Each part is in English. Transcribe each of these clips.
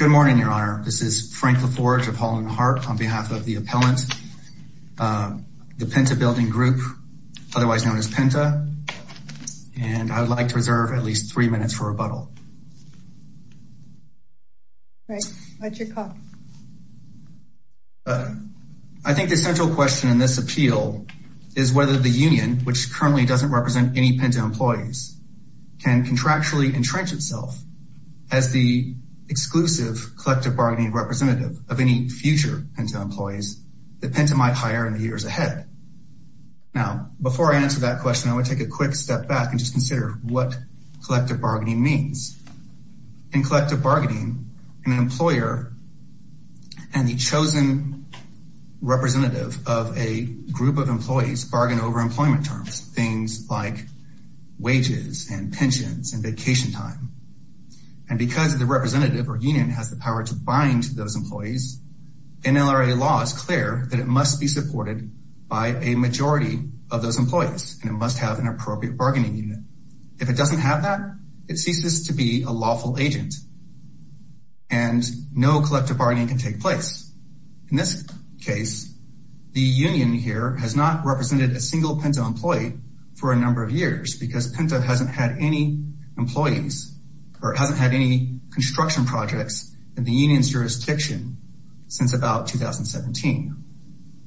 Good morning, Your Honor. This is Frank LaForge of Hall & Hart on behalf of the appellant, the Penta Building Group, otherwise known as Penta. And I would like to reserve at least three minutes for rebuttal. Great. What's your call? I think the central question in this appeal is whether the union, which currently doesn't represent any Penta employees, can contractually entrench itself as the exclusive collective bargaining representative of any future Penta employees that Penta might hire in the years ahead. Now, before I answer that question, I would take a quick step back and just consider what collective bargaining means. In collective bargaining, an employer and the chosen representative of a group of employees bargain over employment terms, things like wages and pensions and And because of the representative or union has the power to bind those employees, NLRA law is clear that it must be supported by a majority of those employees, and it must have an appropriate bargaining unit. If it doesn't have that, it ceases to be a lawful agent and no collective bargaining can take place. In this case, the union here has not represented a single Penta employee for a number of years because Penta hasn't had any employees or it hasn't had any construction projects in the union's jurisdiction since about 2017.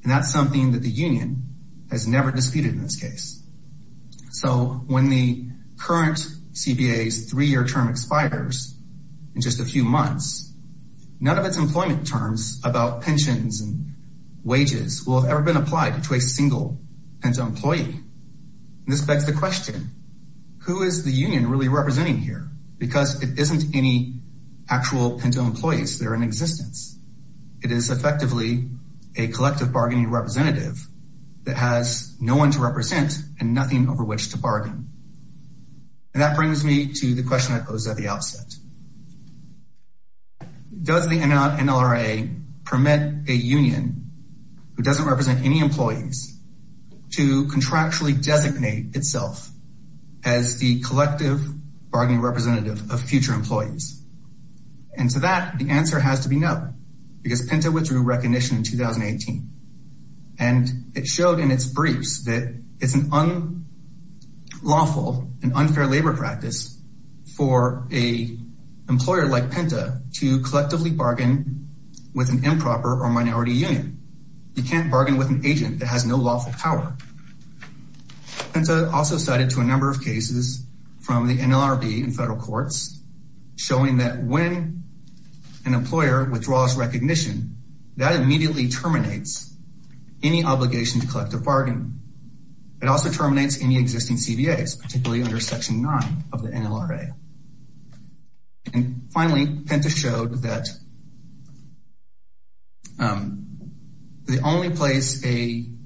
And that's something that the union has never disputed in this case. So when the current CBA's three-year term expires in just a few months, none of its employment terms about pensions and wages will have ever been applied to a single Penta employee, and this begs the question, who is the union really representing here because it isn't any actual Penta employees that are in existence, it is effectively a collective bargaining representative that has no one to represent and nothing over which to bargain. And that brings me to the question I posed at the outset. Does the NLRA permit a union who doesn't represent any employees to contractually designate itself as the collective bargaining representative of future employees? And to that, the answer has to be no, because Penta withdrew recognition in 2018, and it showed in its briefs that it's an unlawful and unfair labor practice for a employer like Penta to collectively bargain with an improper or minority union. You can't bargain with an agent that has no lawful power. Penta also cited to a number of cases from the NLRB and federal courts showing that when an employer withdraws recognition, that immediately terminates any obligation to collective bargain. It also terminates any existing CBAs, particularly under Section 9 of the NLRA. And finally, Penta showed that the only place a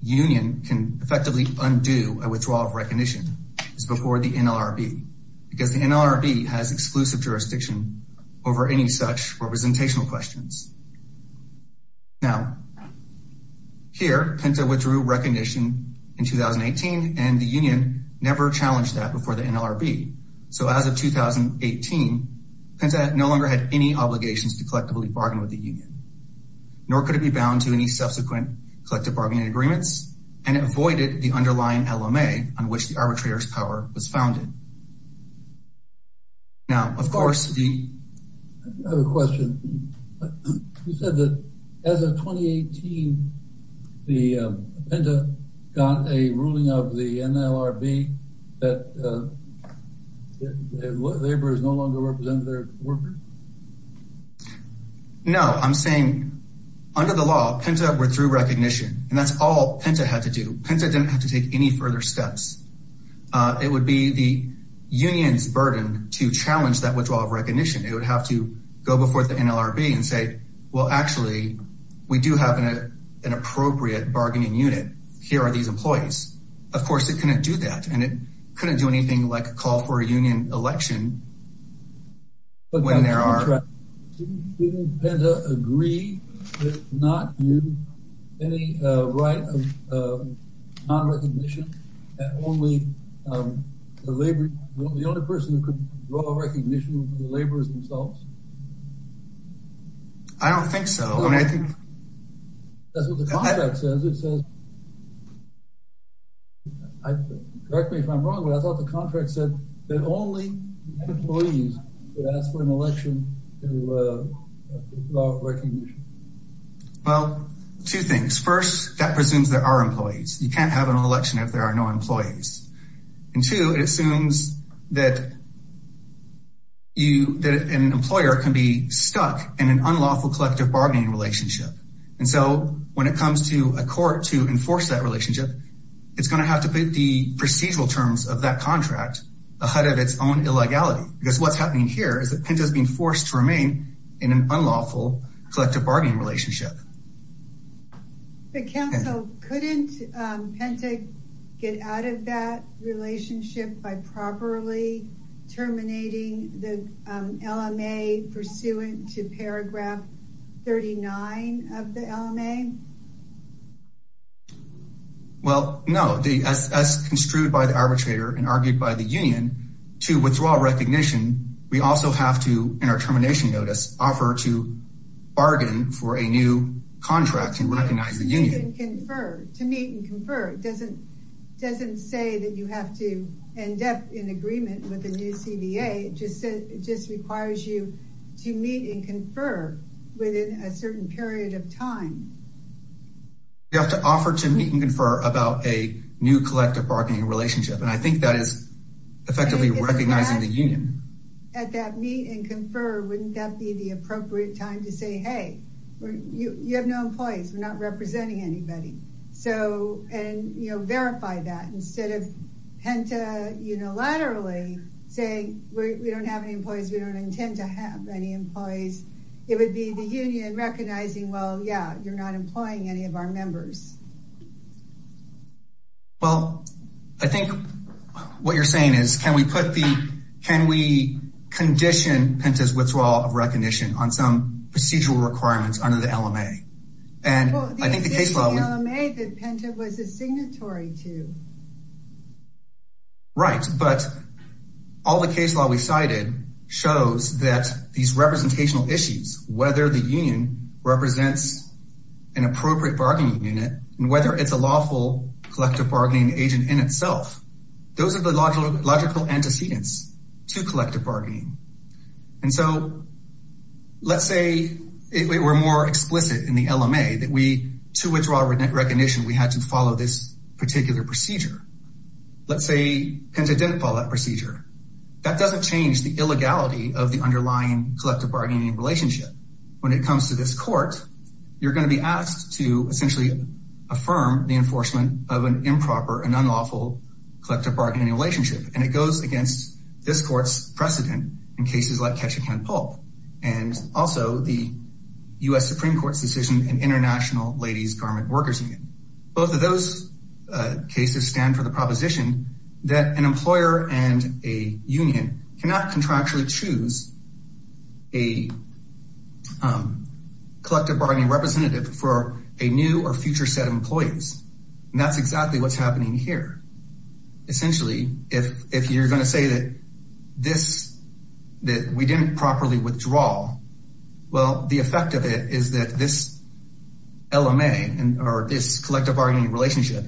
union can effectively undo a withdrawal of recognition is before the NLRB, because the NLRB has exclusive jurisdiction over any such representational questions. Now, here, Penta withdrew recognition in 2018, and the union never challenged that before the NLRB. So as of 2018, Penta no longer had any obligations to collectively bargain with the union, nor could it be bound to any subsequent collective bargaining agreements, and it voided the underlying LMA on which the arbitrator's power was founded. Now, of course, the- You said that as of 2018, Penta got a ruling of the NLRB that laborers no longer represented their workers? No, I'm saying under the law, Penta withdrew recognition, and that's all Penta had to do. Penta didn't have to take any further steps. It would be the union's burden to challenge that withdrawal of recognition. It would have to go before the NLRB and say, well, actually, we do have an appropriate bargaining unit. Here are these employees. Of course, it couldn't do that, and it couldn't do anything like a call for a union election when there are- But, Dr. McTryde, didn't Penta agree that it's not due any right of non-recognition that only the labor- The only person who could withdraw recognition from the laborers themselves? I don't think so. I mean, I think- That's what the contract says. It says- Correct me if I'm wrong, but I thought the contract said that only employees could ask for an election to withdraw recognition. Well, two things. First, that presumes there are employees. You can't have an election if there are no employees. And two, it assumes that an employer can be stuck in an unlawful collective bargaining relationship. And so when it comes to a court to enforce that relationship, it's going to have to put the procedural terms of that contract ahead of its own illegality. Because what's happening here is that Penta's being forced to remain in an unlawful collective bargaining relationship. But counsel, couldn't Penta get out of that relationship by properly terminating the LMA pursuant to paragraph 39 of the LMA? Well, no, as construed by the arbitrator and argued by the union, to withdraw recognition, we also have to, in our termination notice, offer to bargain for a new contract and recognize the union. To meet and confer. It doesn't say that you have to end up in agreement with the new CBA. It just requires you to meet and confer within a certain period of time. You have to offer to meet and confer about a new collective bargaining relationship. And I think that is effectively recognizing the union. At that meet and confer, wouldn't that be the appropriate time to say, hey, you have no employees. We're not representing anybody. So, and, you know, verify that instead of Penta unilaterally saying we don't have any employees, we don't intend to have any employees, it would be the union recognizing, well, yeah, you're not employing any of our members. Well, I think what you're saying is can we put the, can we condition Penta's requirements under the LMA and I think the case law, right. But all the case law we cited shows that these representational issues, whether the union represents an appropriate bargaining unit and whether it's a lawful collective bargaining agent in itself, those are the logical antecedents to collective bargaining. And so let's say if it were more explicit in the LMA that we, to withdraw recognition, we had to follow this particular procedure. Let's say Penta didn't follow that procedure. That doesn't change the illegality of the underlying collective bargaining relationship. When it comes to this court, you're going to be asked to essentially affirm the enforcement of an improper and unlawful collective bargaining relationship, and it goes against this court's precedent in cases like Ketchikan Pulp and also the U.S. Supreme Court's decision in International Ladies Garment Workers Union. Both of those cases stand for the proposition that an employer and a union cannot contractually choose a collective bargaining representative for a new or future set of employees. And that's exactly what's happening here. Essentially, if you're going to say that this, that we didn't properly withdraw, well, the effect of it is that this LMA or this collective bargaining relationship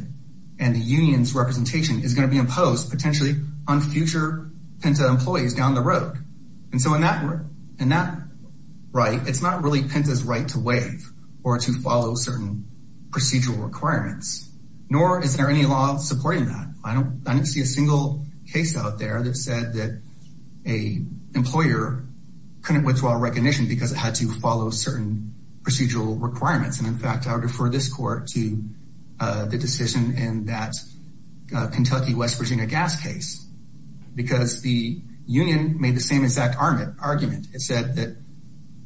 and the union's representation is going to be imposed potentially on future Penta employees down the road. And so in that right, it's not really Penta's right to waive or to follow certain procedural requirements, nor is there any law supporting that. I don't see a single case out there that said that a employer couldn't withdraw recognition because it had to follow certain procedural requirements. And in fact, I'll defer this court to the decision in that Kentucky, West Virginia gas case, because the union made the same exact argument. It said that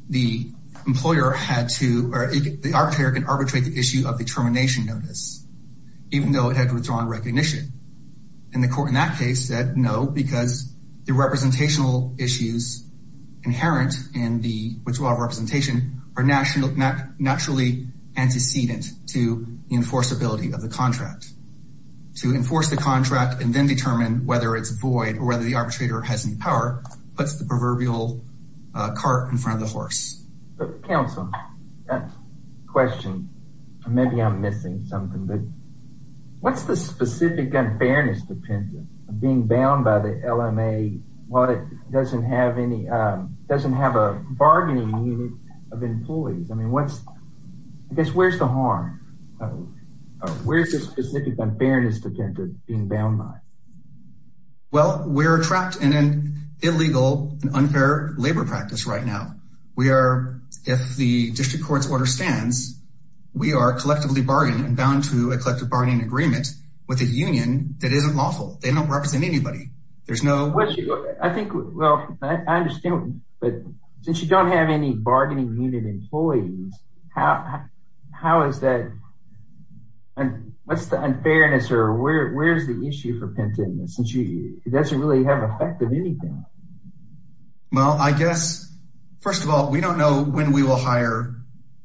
the employer had to, or the arbitrator can arbitrate the issue of the termination notice, even though it had withdrawn recognition. And the court in that case said no, because the representational issues inherent in the withdrawal of representation are naturally antecedent to the enforceability of the contract. To enforce the contract and then determine whether it's void or whether the arbitrator has any power, puts the proverbial cart in front of the horse. Counselor, question, maybe I'm missing something, but what's the specific unfairness to Penta of being bound by the LMA while it doesn't have any, doesn't have a bargaining unit of employees? I mean, what's, I guess, where's the harm? Where's the specific unfairness to Penta being bound by? Well, we're trapped in an illegal and unfair labor practice right now. We are, if the district court's order stands, we are collectively bargained and bound to a collective bargaining agreement with a union that isn't lawful. They don't represent anybody. There's no. I think, well, I understand, but since you don't have any bargaining unit employees, how, how is that, what's the unfairness or where's the issue for Penta in this? And she doesn't really have effect of anything. Well, I guess, first of all, we don't know when we will hire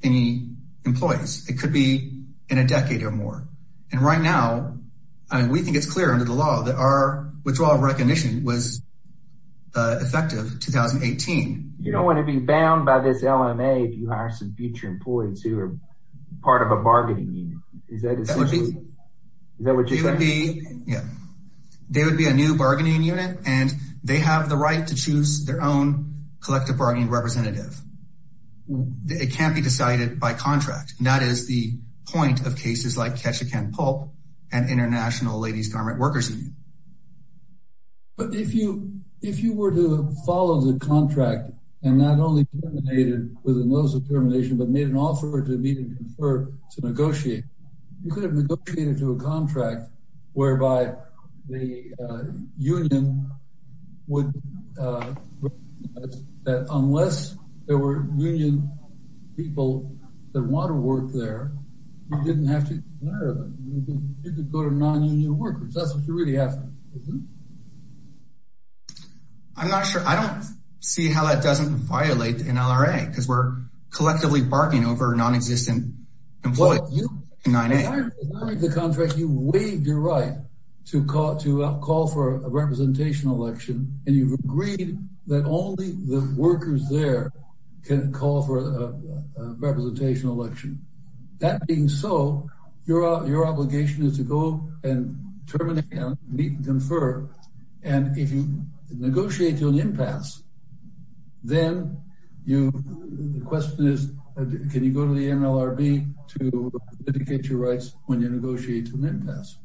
any employees. It could be in a decade or more. And right now, I mean, we think it's clear under the law that our withdrawal recognition was effective 2018. You don't want to be bound by this LMA if you hire some future employees who are part of a bargaining unit. Is that what you're saying? Yeah, they would be a new bargaining unit and they have the right to choose their own collective bargaining representative. It can't be decided by contract. And that is the point of cases like Ketchikan Pulp and International Ladies Garment Workers Union. But if you, if you were to follow the contract and not only terminated with a notice of termination, but made an offer to meet and confer to negotiate, you could have negotiated to a contract whereby the union would, that unless there were union people that want to work there, you didn't have to. You could go to non-union workers. That's what you really have to do. I'm not sure. I don't see how that doesn't violate an LRA because we're collectively bargaining over non-existent employees. Well, you've waived the contract, you've waived your right to call for a representation election, and you've agreed that only the workers there can call for a representation election. That being so, your obligation is to go and terminate and meet and confer. And if you negotiate to an impasse, then the question is, can you go to the union to litigate your rights when you negotiate to an impasse?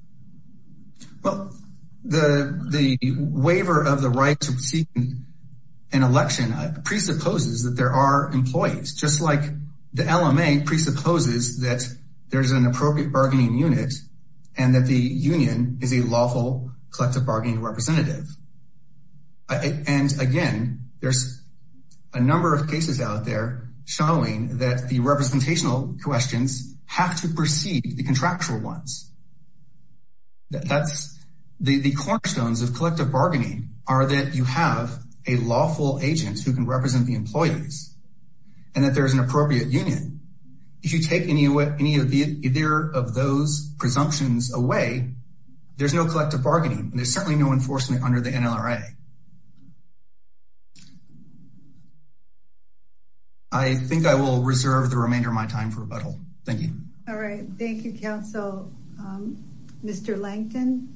Well, the waiver of the right to seek an election presupposes that there are employees, just like the LMA presupposes that there's an appropriate bargaining unit and that the union is a lawful collective bargaining representative. And again, there's a number of cases out there showing that the representational questions have to precede the contractual ones. That's the cornerstones of collective bargaining are that you have a lawful agent who can represent the employees and that there's an appropriate union. If you take any of those presumptions away, there's no collective bargaining. And there's certainly no enforcement under the NLRA. I think I will reserve the remainder of my time for rebuttal. Thank you. All right. Thank you, counsel. Mr. Lankton.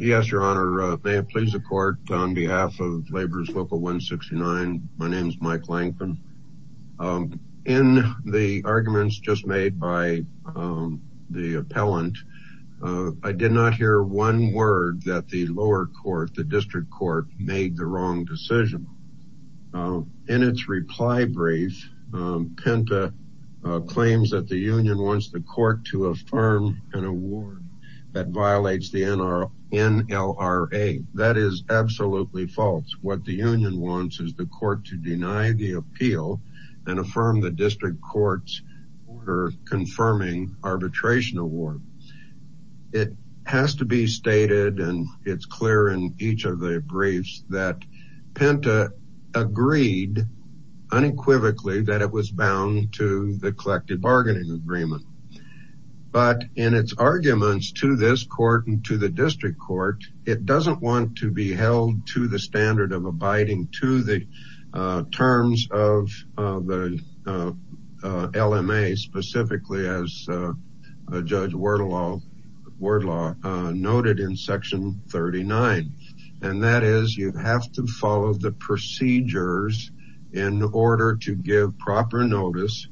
Yes, your honor. May it please the court on behalf of Labor's Local 169. In the arguments just made by the appellant, the LMA, the LMA I did not hear one word that the lower court, the district court made the wrong decision. In its reply brief, Penta claims that the union wants the court to affirm an award that violates the NLRA. That is absolutely false. What the union wants is the court to deny the appeal and affirm the district court's order confirming arbitration award. It has to be stated and it's clear in each of the briefs that Penta agreed unequivocally that it was bound to the collective bargaining agreement. But in its arguments to this court and to the district court, it doesn't want to be held to the standard of abiding to the terms of the LMA specifically as Judge Wardlaw noted in section 39. And that is you have to follow the procedures in order to give proper notice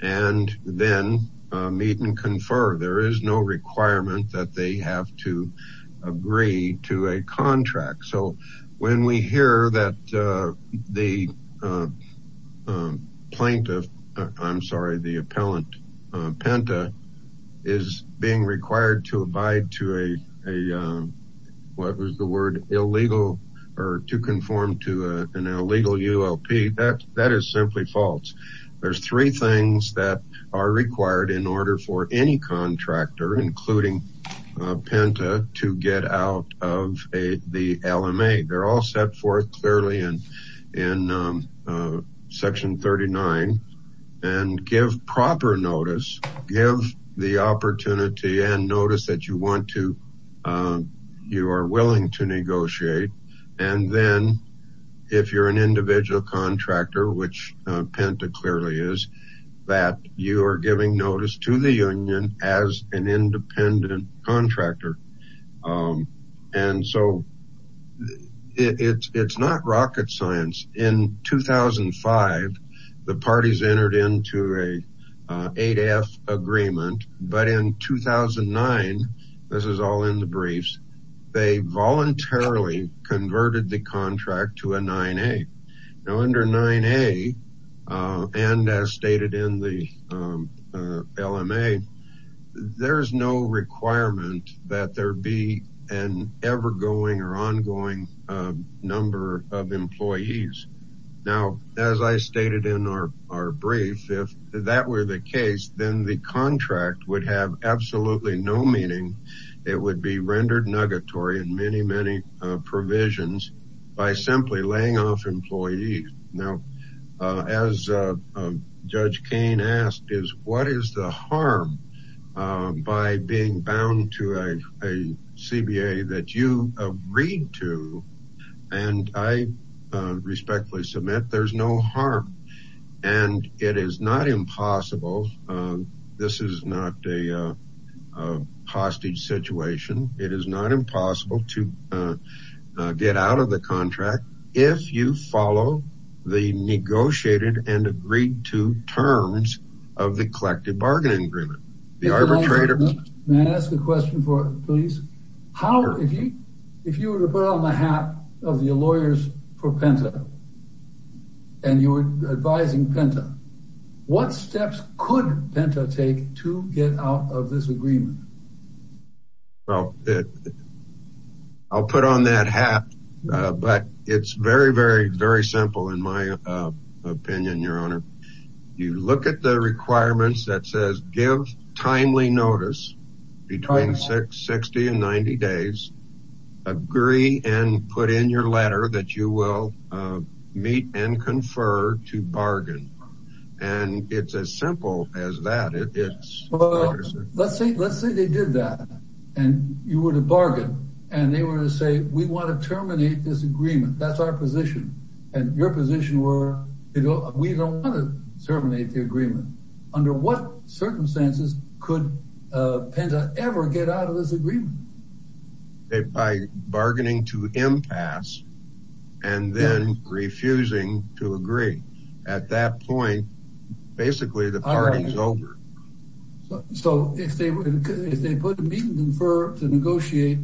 and then meet and confer. There is no requirement that they have to agree to a contract. So when we hear that the plaintiff, I'm sorry, the appellant Penta is being required to abide to a, what was the word, illegal or to conform to an illegal ULP. That is simply false. There's three things that are required in order for any contractor, including Penta, to get out of the LMA. They're all set forth clearly in section 39 and give proper notice, give the opportunity and notice that you want to, you are willing to negotiate. And then if you're an individual contractor, which Penta clearly is, that you are giving notice to the union as an independent contractor. And so it's not rocket science. In 2005, the parties entered into a 8F agreement, but in 2009, this is all in the briefs, they voluntarily converted the contract to a 9A. Now under 9A and as stated in the LMA, there's no requirement that there be an ever going or ongoing number of employees. Now, as I stated in our brief, if that were the case, then the contract would have absolutely no meaning. It would be rendered negatory in many, many provisions by simply laying off employees. Now, as Judge Cain asked is, what is the harm by being bound to a CBA that you agreed to? And I respectfully submit there's no harm and it is not impossible. This is not a hostage situation. It is not impossible to get out of the contract if you follow the negotiated and agreed to terms of the collective bargaining agreement. May I ask a question for, please? How, if you were to put on the hat of your lawyers for Penta and you were advising Penta, what steps could Penta take to get out of this agreement? Well, I'll put on that hat, but it's very, very, very simple in my opinion, Your Honor. You look at the requirements that says give timely notice between 60 and 90 days. Agree and put in your letter that you will meet and confer to bargain. And it's as simple as that. It is. Let's say, let's say they did that and you were to bargain and they were to say, we want to terminate this agreement. That's our position. And your position were, we don't want to terminate the agreement. Under what circumstances could Penta ever get out of this agreement? By bargaining to impasse and then refusing to agree. At that point, basically the party is over. So if they, if they put a meet and confer to negotiate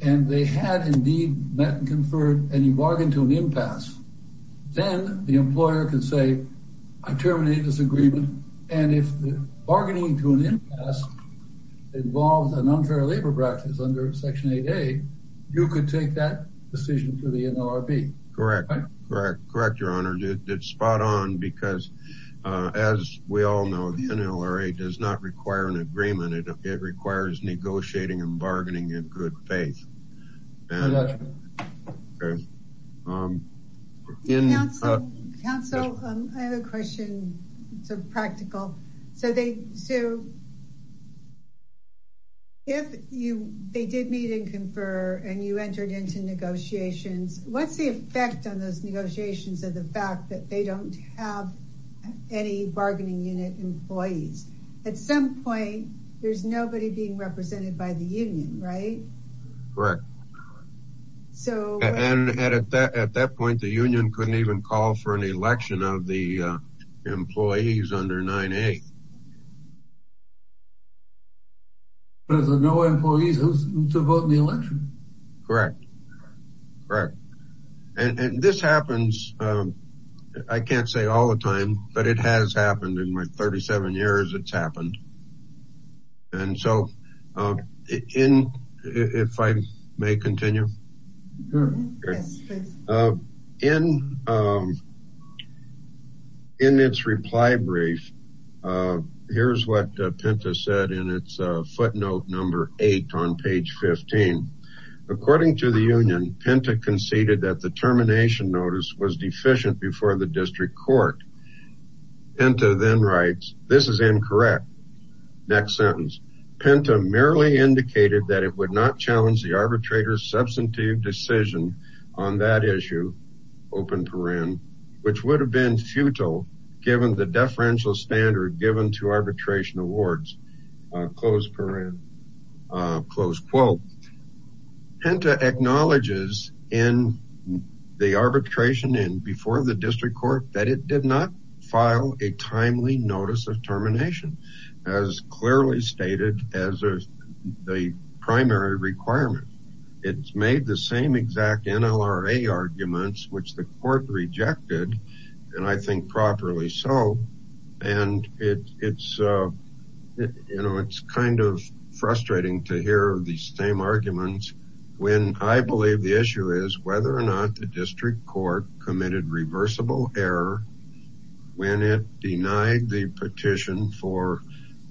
and they had indeed met and conferred and you bargained to an impasse, then the employer can say, I terminated this agreement and if the bargaining to an impasse involves an unfair labor practice under section 8A, you could take that decision for the NLRB. Correct, correct, correct. It's spot on because as we all know, the NLRA does not require an agreement. It requires negotiating and bargaining in good faith. Council, I have a question. It's a practical. So they, so if you, they did meet and confer and you entered into negotiations, what's the effect on those negotiations of the fact that they don't have any bargaining unit employees? At some point, there's nobody being represented by the union, right? Correct. So, and at that, at that point, the union couldn't even call for an election of the employees under 9A. There's no employees to vote in the election. Correct. Correct. And this happens, I can't say all the time, but it has happened in my 37 years, it's happened. And so in, if I may continue. In, in its reply brief, here's what Pinto said in its footnote number eight on page 15, according to the union, Pinto conceded that the termination notice was deficient before the district court. Pinto then writes, this is incorrect. Next sentence, Pinto merely indicated that it would not challenge the arbitrator's substantive decision on that issue, open paren, which would have been futile given the deferential standard given to arbitration awards. Close paren, close quote. Pinto acknowledges in the arbitration and before the district court that it did not file a timely notice of termination as clearly stated as the primary requirement. It's made the same exact NLRA arguments, which the court rejected, and I think you know, it's kind of frustrating to hear the same arguments when I believe the issue is whether or not the district court committed reversible error when it denied the petition for,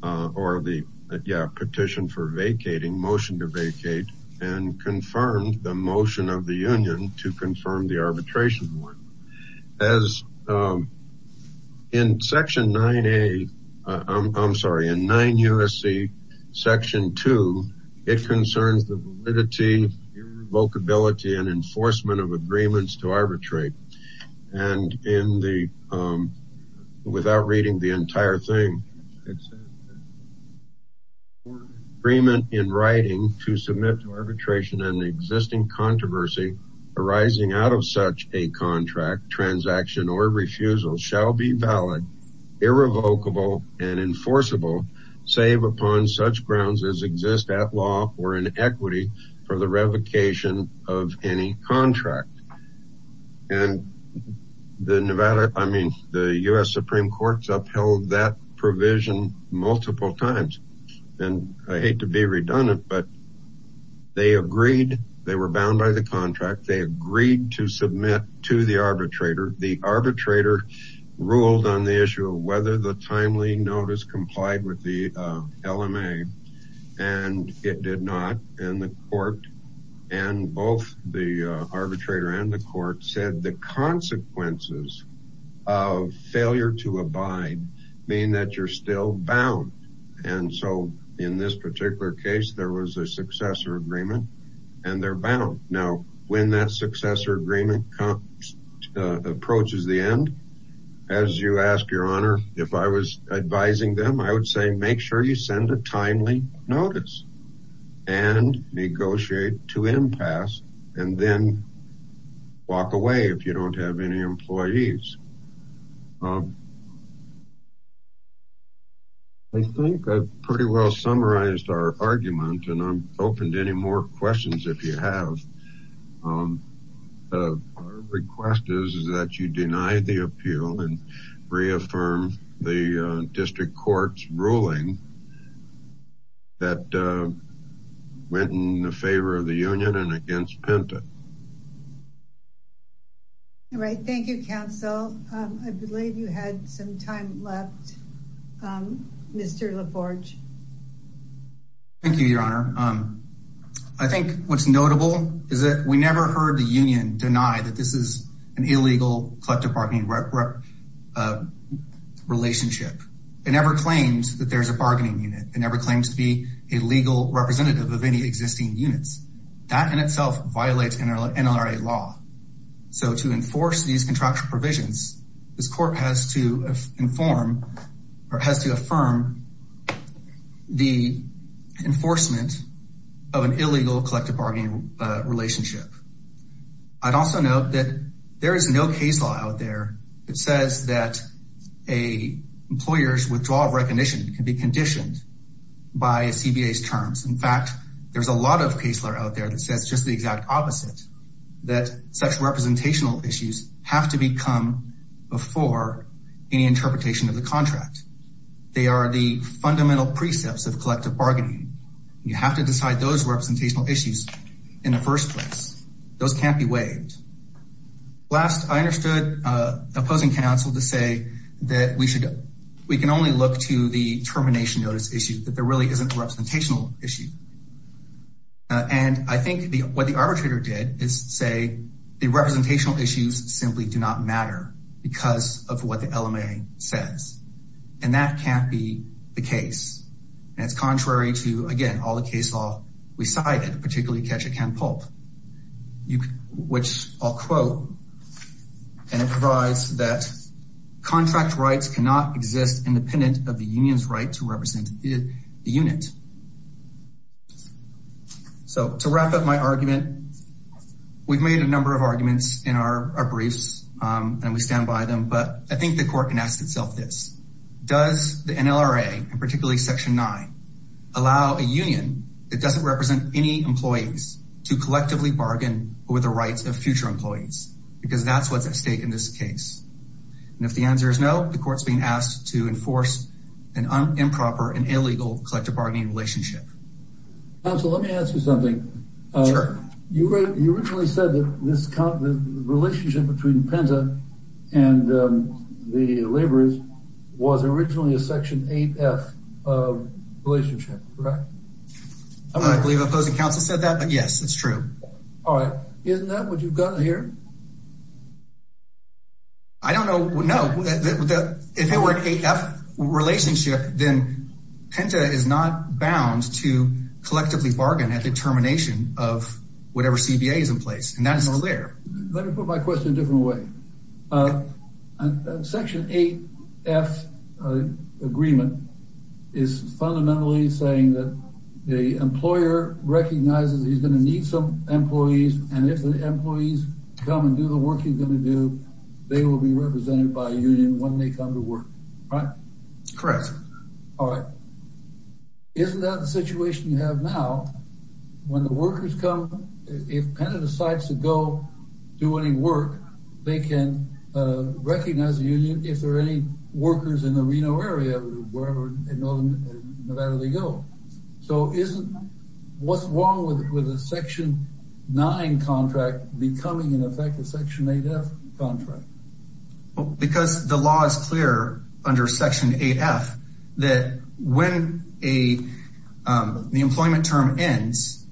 or the, yeah, petition for vacating, motion to vacate and confirmed the motion of the union to confirm the arbitration one. As in section 9A, I'm sorry, in 9 USC section two, it concerns the validity, revocability, and enforcement of agreements to arbitrate. And in the, without reading the entire thing, agreement in writing to submit to arbitration and the existing controversy arising out of such a contract, transaction, or refusal shall be valid, irrevocable, and enforceable. Save upon such grounds as exist at law or in equity for the revocation of any contract. And the Nevada, I mean, the U.S. Supreme court's upheld that provision multiple times. And I hate to be redundant, but they agreed, they were bound by the contract. They agreed to submit to the arbitrator. The arbitrator ruled on the issue of whether the timely notice complied with the LMA. And it did not. And the court and both the arbitrator and the court said the consequences of failure to abide mean that you're still bound. And so in this particular case, there was a successor agreement and they're bound. Now, when that successor agreement approaches the end, as you ask your honor, if I was advising them, I would say, make sure you send a timely notice and negotiate to impasse and then walk away if you don't have any employees. I think I've pretty well summarized our argument and I'm open to any more questions if you have. Our request is that you deny the appeal and reaffirm the district court's ruling that went in the favor of the union and against Penta. All right. Thank you, counsel. I believe you had some time left, Mr. LaForge. Thank you, your honor. I think what's notable is that we never heard the union deny that this is an illegal collective bargaining relationship. It never claims that there's a bargaining unit. It never claims to be a legal representative of any existing units. That in itself violates NLRA law. So to enforce these contractual provisions, this court has to inform or has to affirm the enforcement of an illegal collective bargaining relationship. I'd also note that there is no case law out there that says that a employer's withdrawal of recognition can be conditioned by a CBA's terms. In fact, there's a lot of case law out there that says just the exact opposite, that such representational issues have to become before any interpretation of the contract. They are the fundamental precepts of collective bargaining. You have to decide those representational issues in the first place. Those can't be waived. Last, I understood opposing counsel to say that we can only look to the termination notice issue, that there really isn't a representational issue. And I think what the arbitrator did is say the representational issues simply do not matter because of what the LMA says, and that can't be the case. And it's contrary to, again, all the case law we cited, particularly Ketchikan-Pulp, which I'll quote, and it provides that contract rights cannot exist independent of the union's right to represent the unit. So to wrap up my argument, we've made a number of arguments in our briefs and we stand by them, but I think the court can ask itself this, does the NLRA, and particularly section nine, allow a union that doesn't represent any employees to collectively bargain over the rights of future employees? Because that's what's at stake in this case. And if the answer is no, the court's being asked to enforce an improper and illegal collective bargaining requirement. And so let me ask you something. Sure. You originally said that this relationship between Penta and the laborers was originally a section 8F relationship, correct? I believe the opposing counsel said that, but yes, it's true. All right. Isn't that what you've got here? I don't know. No, if it were an 8F relationship, then Penta is not bound to collectively bargain at the termination of whatever CBA is in place, and that's not there. Let me put my question in a different way. Section 8F agreement is fundamentally saying that the employer recognizes that he's going to need some employees, and if the employees come and do the union when they come to work, right? Correct. All right. Isn't that the situation you have now when the workers come, if Penta decides to go do any work, they can recognize the union if there are any workers in the Reno area, wherever in Nevada they go. So what's wrong with a section 9 contract becoming, in effect, a section 8F contract? Well, because the law is clear under section 8F, that when the employment term ends,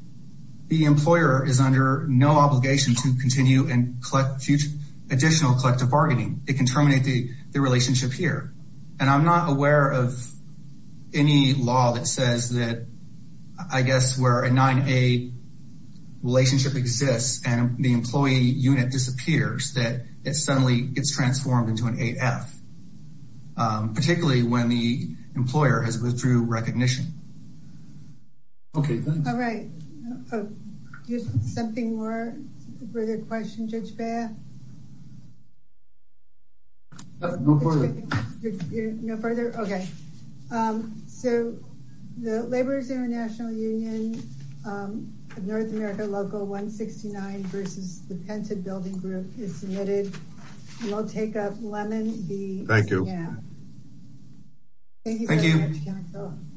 the employer is under no obligation to continue and collect additional collective bargaining. It can terminate the relationship here. And I'm not aware of any law that says that, I guess, where a 9A relationship exists, and the employee unit disappears, that it suddenly gets transformed into an 8F, particularly when the employer has withdrew recognition. Okay. All right. Here's something more for the question. Judge Baer? No further. No further? Okay. So the Laborers International Union of North America Local 169 versus the Penta Building Group is submitted. We'll take up Lemon v. Thank you. Thank you.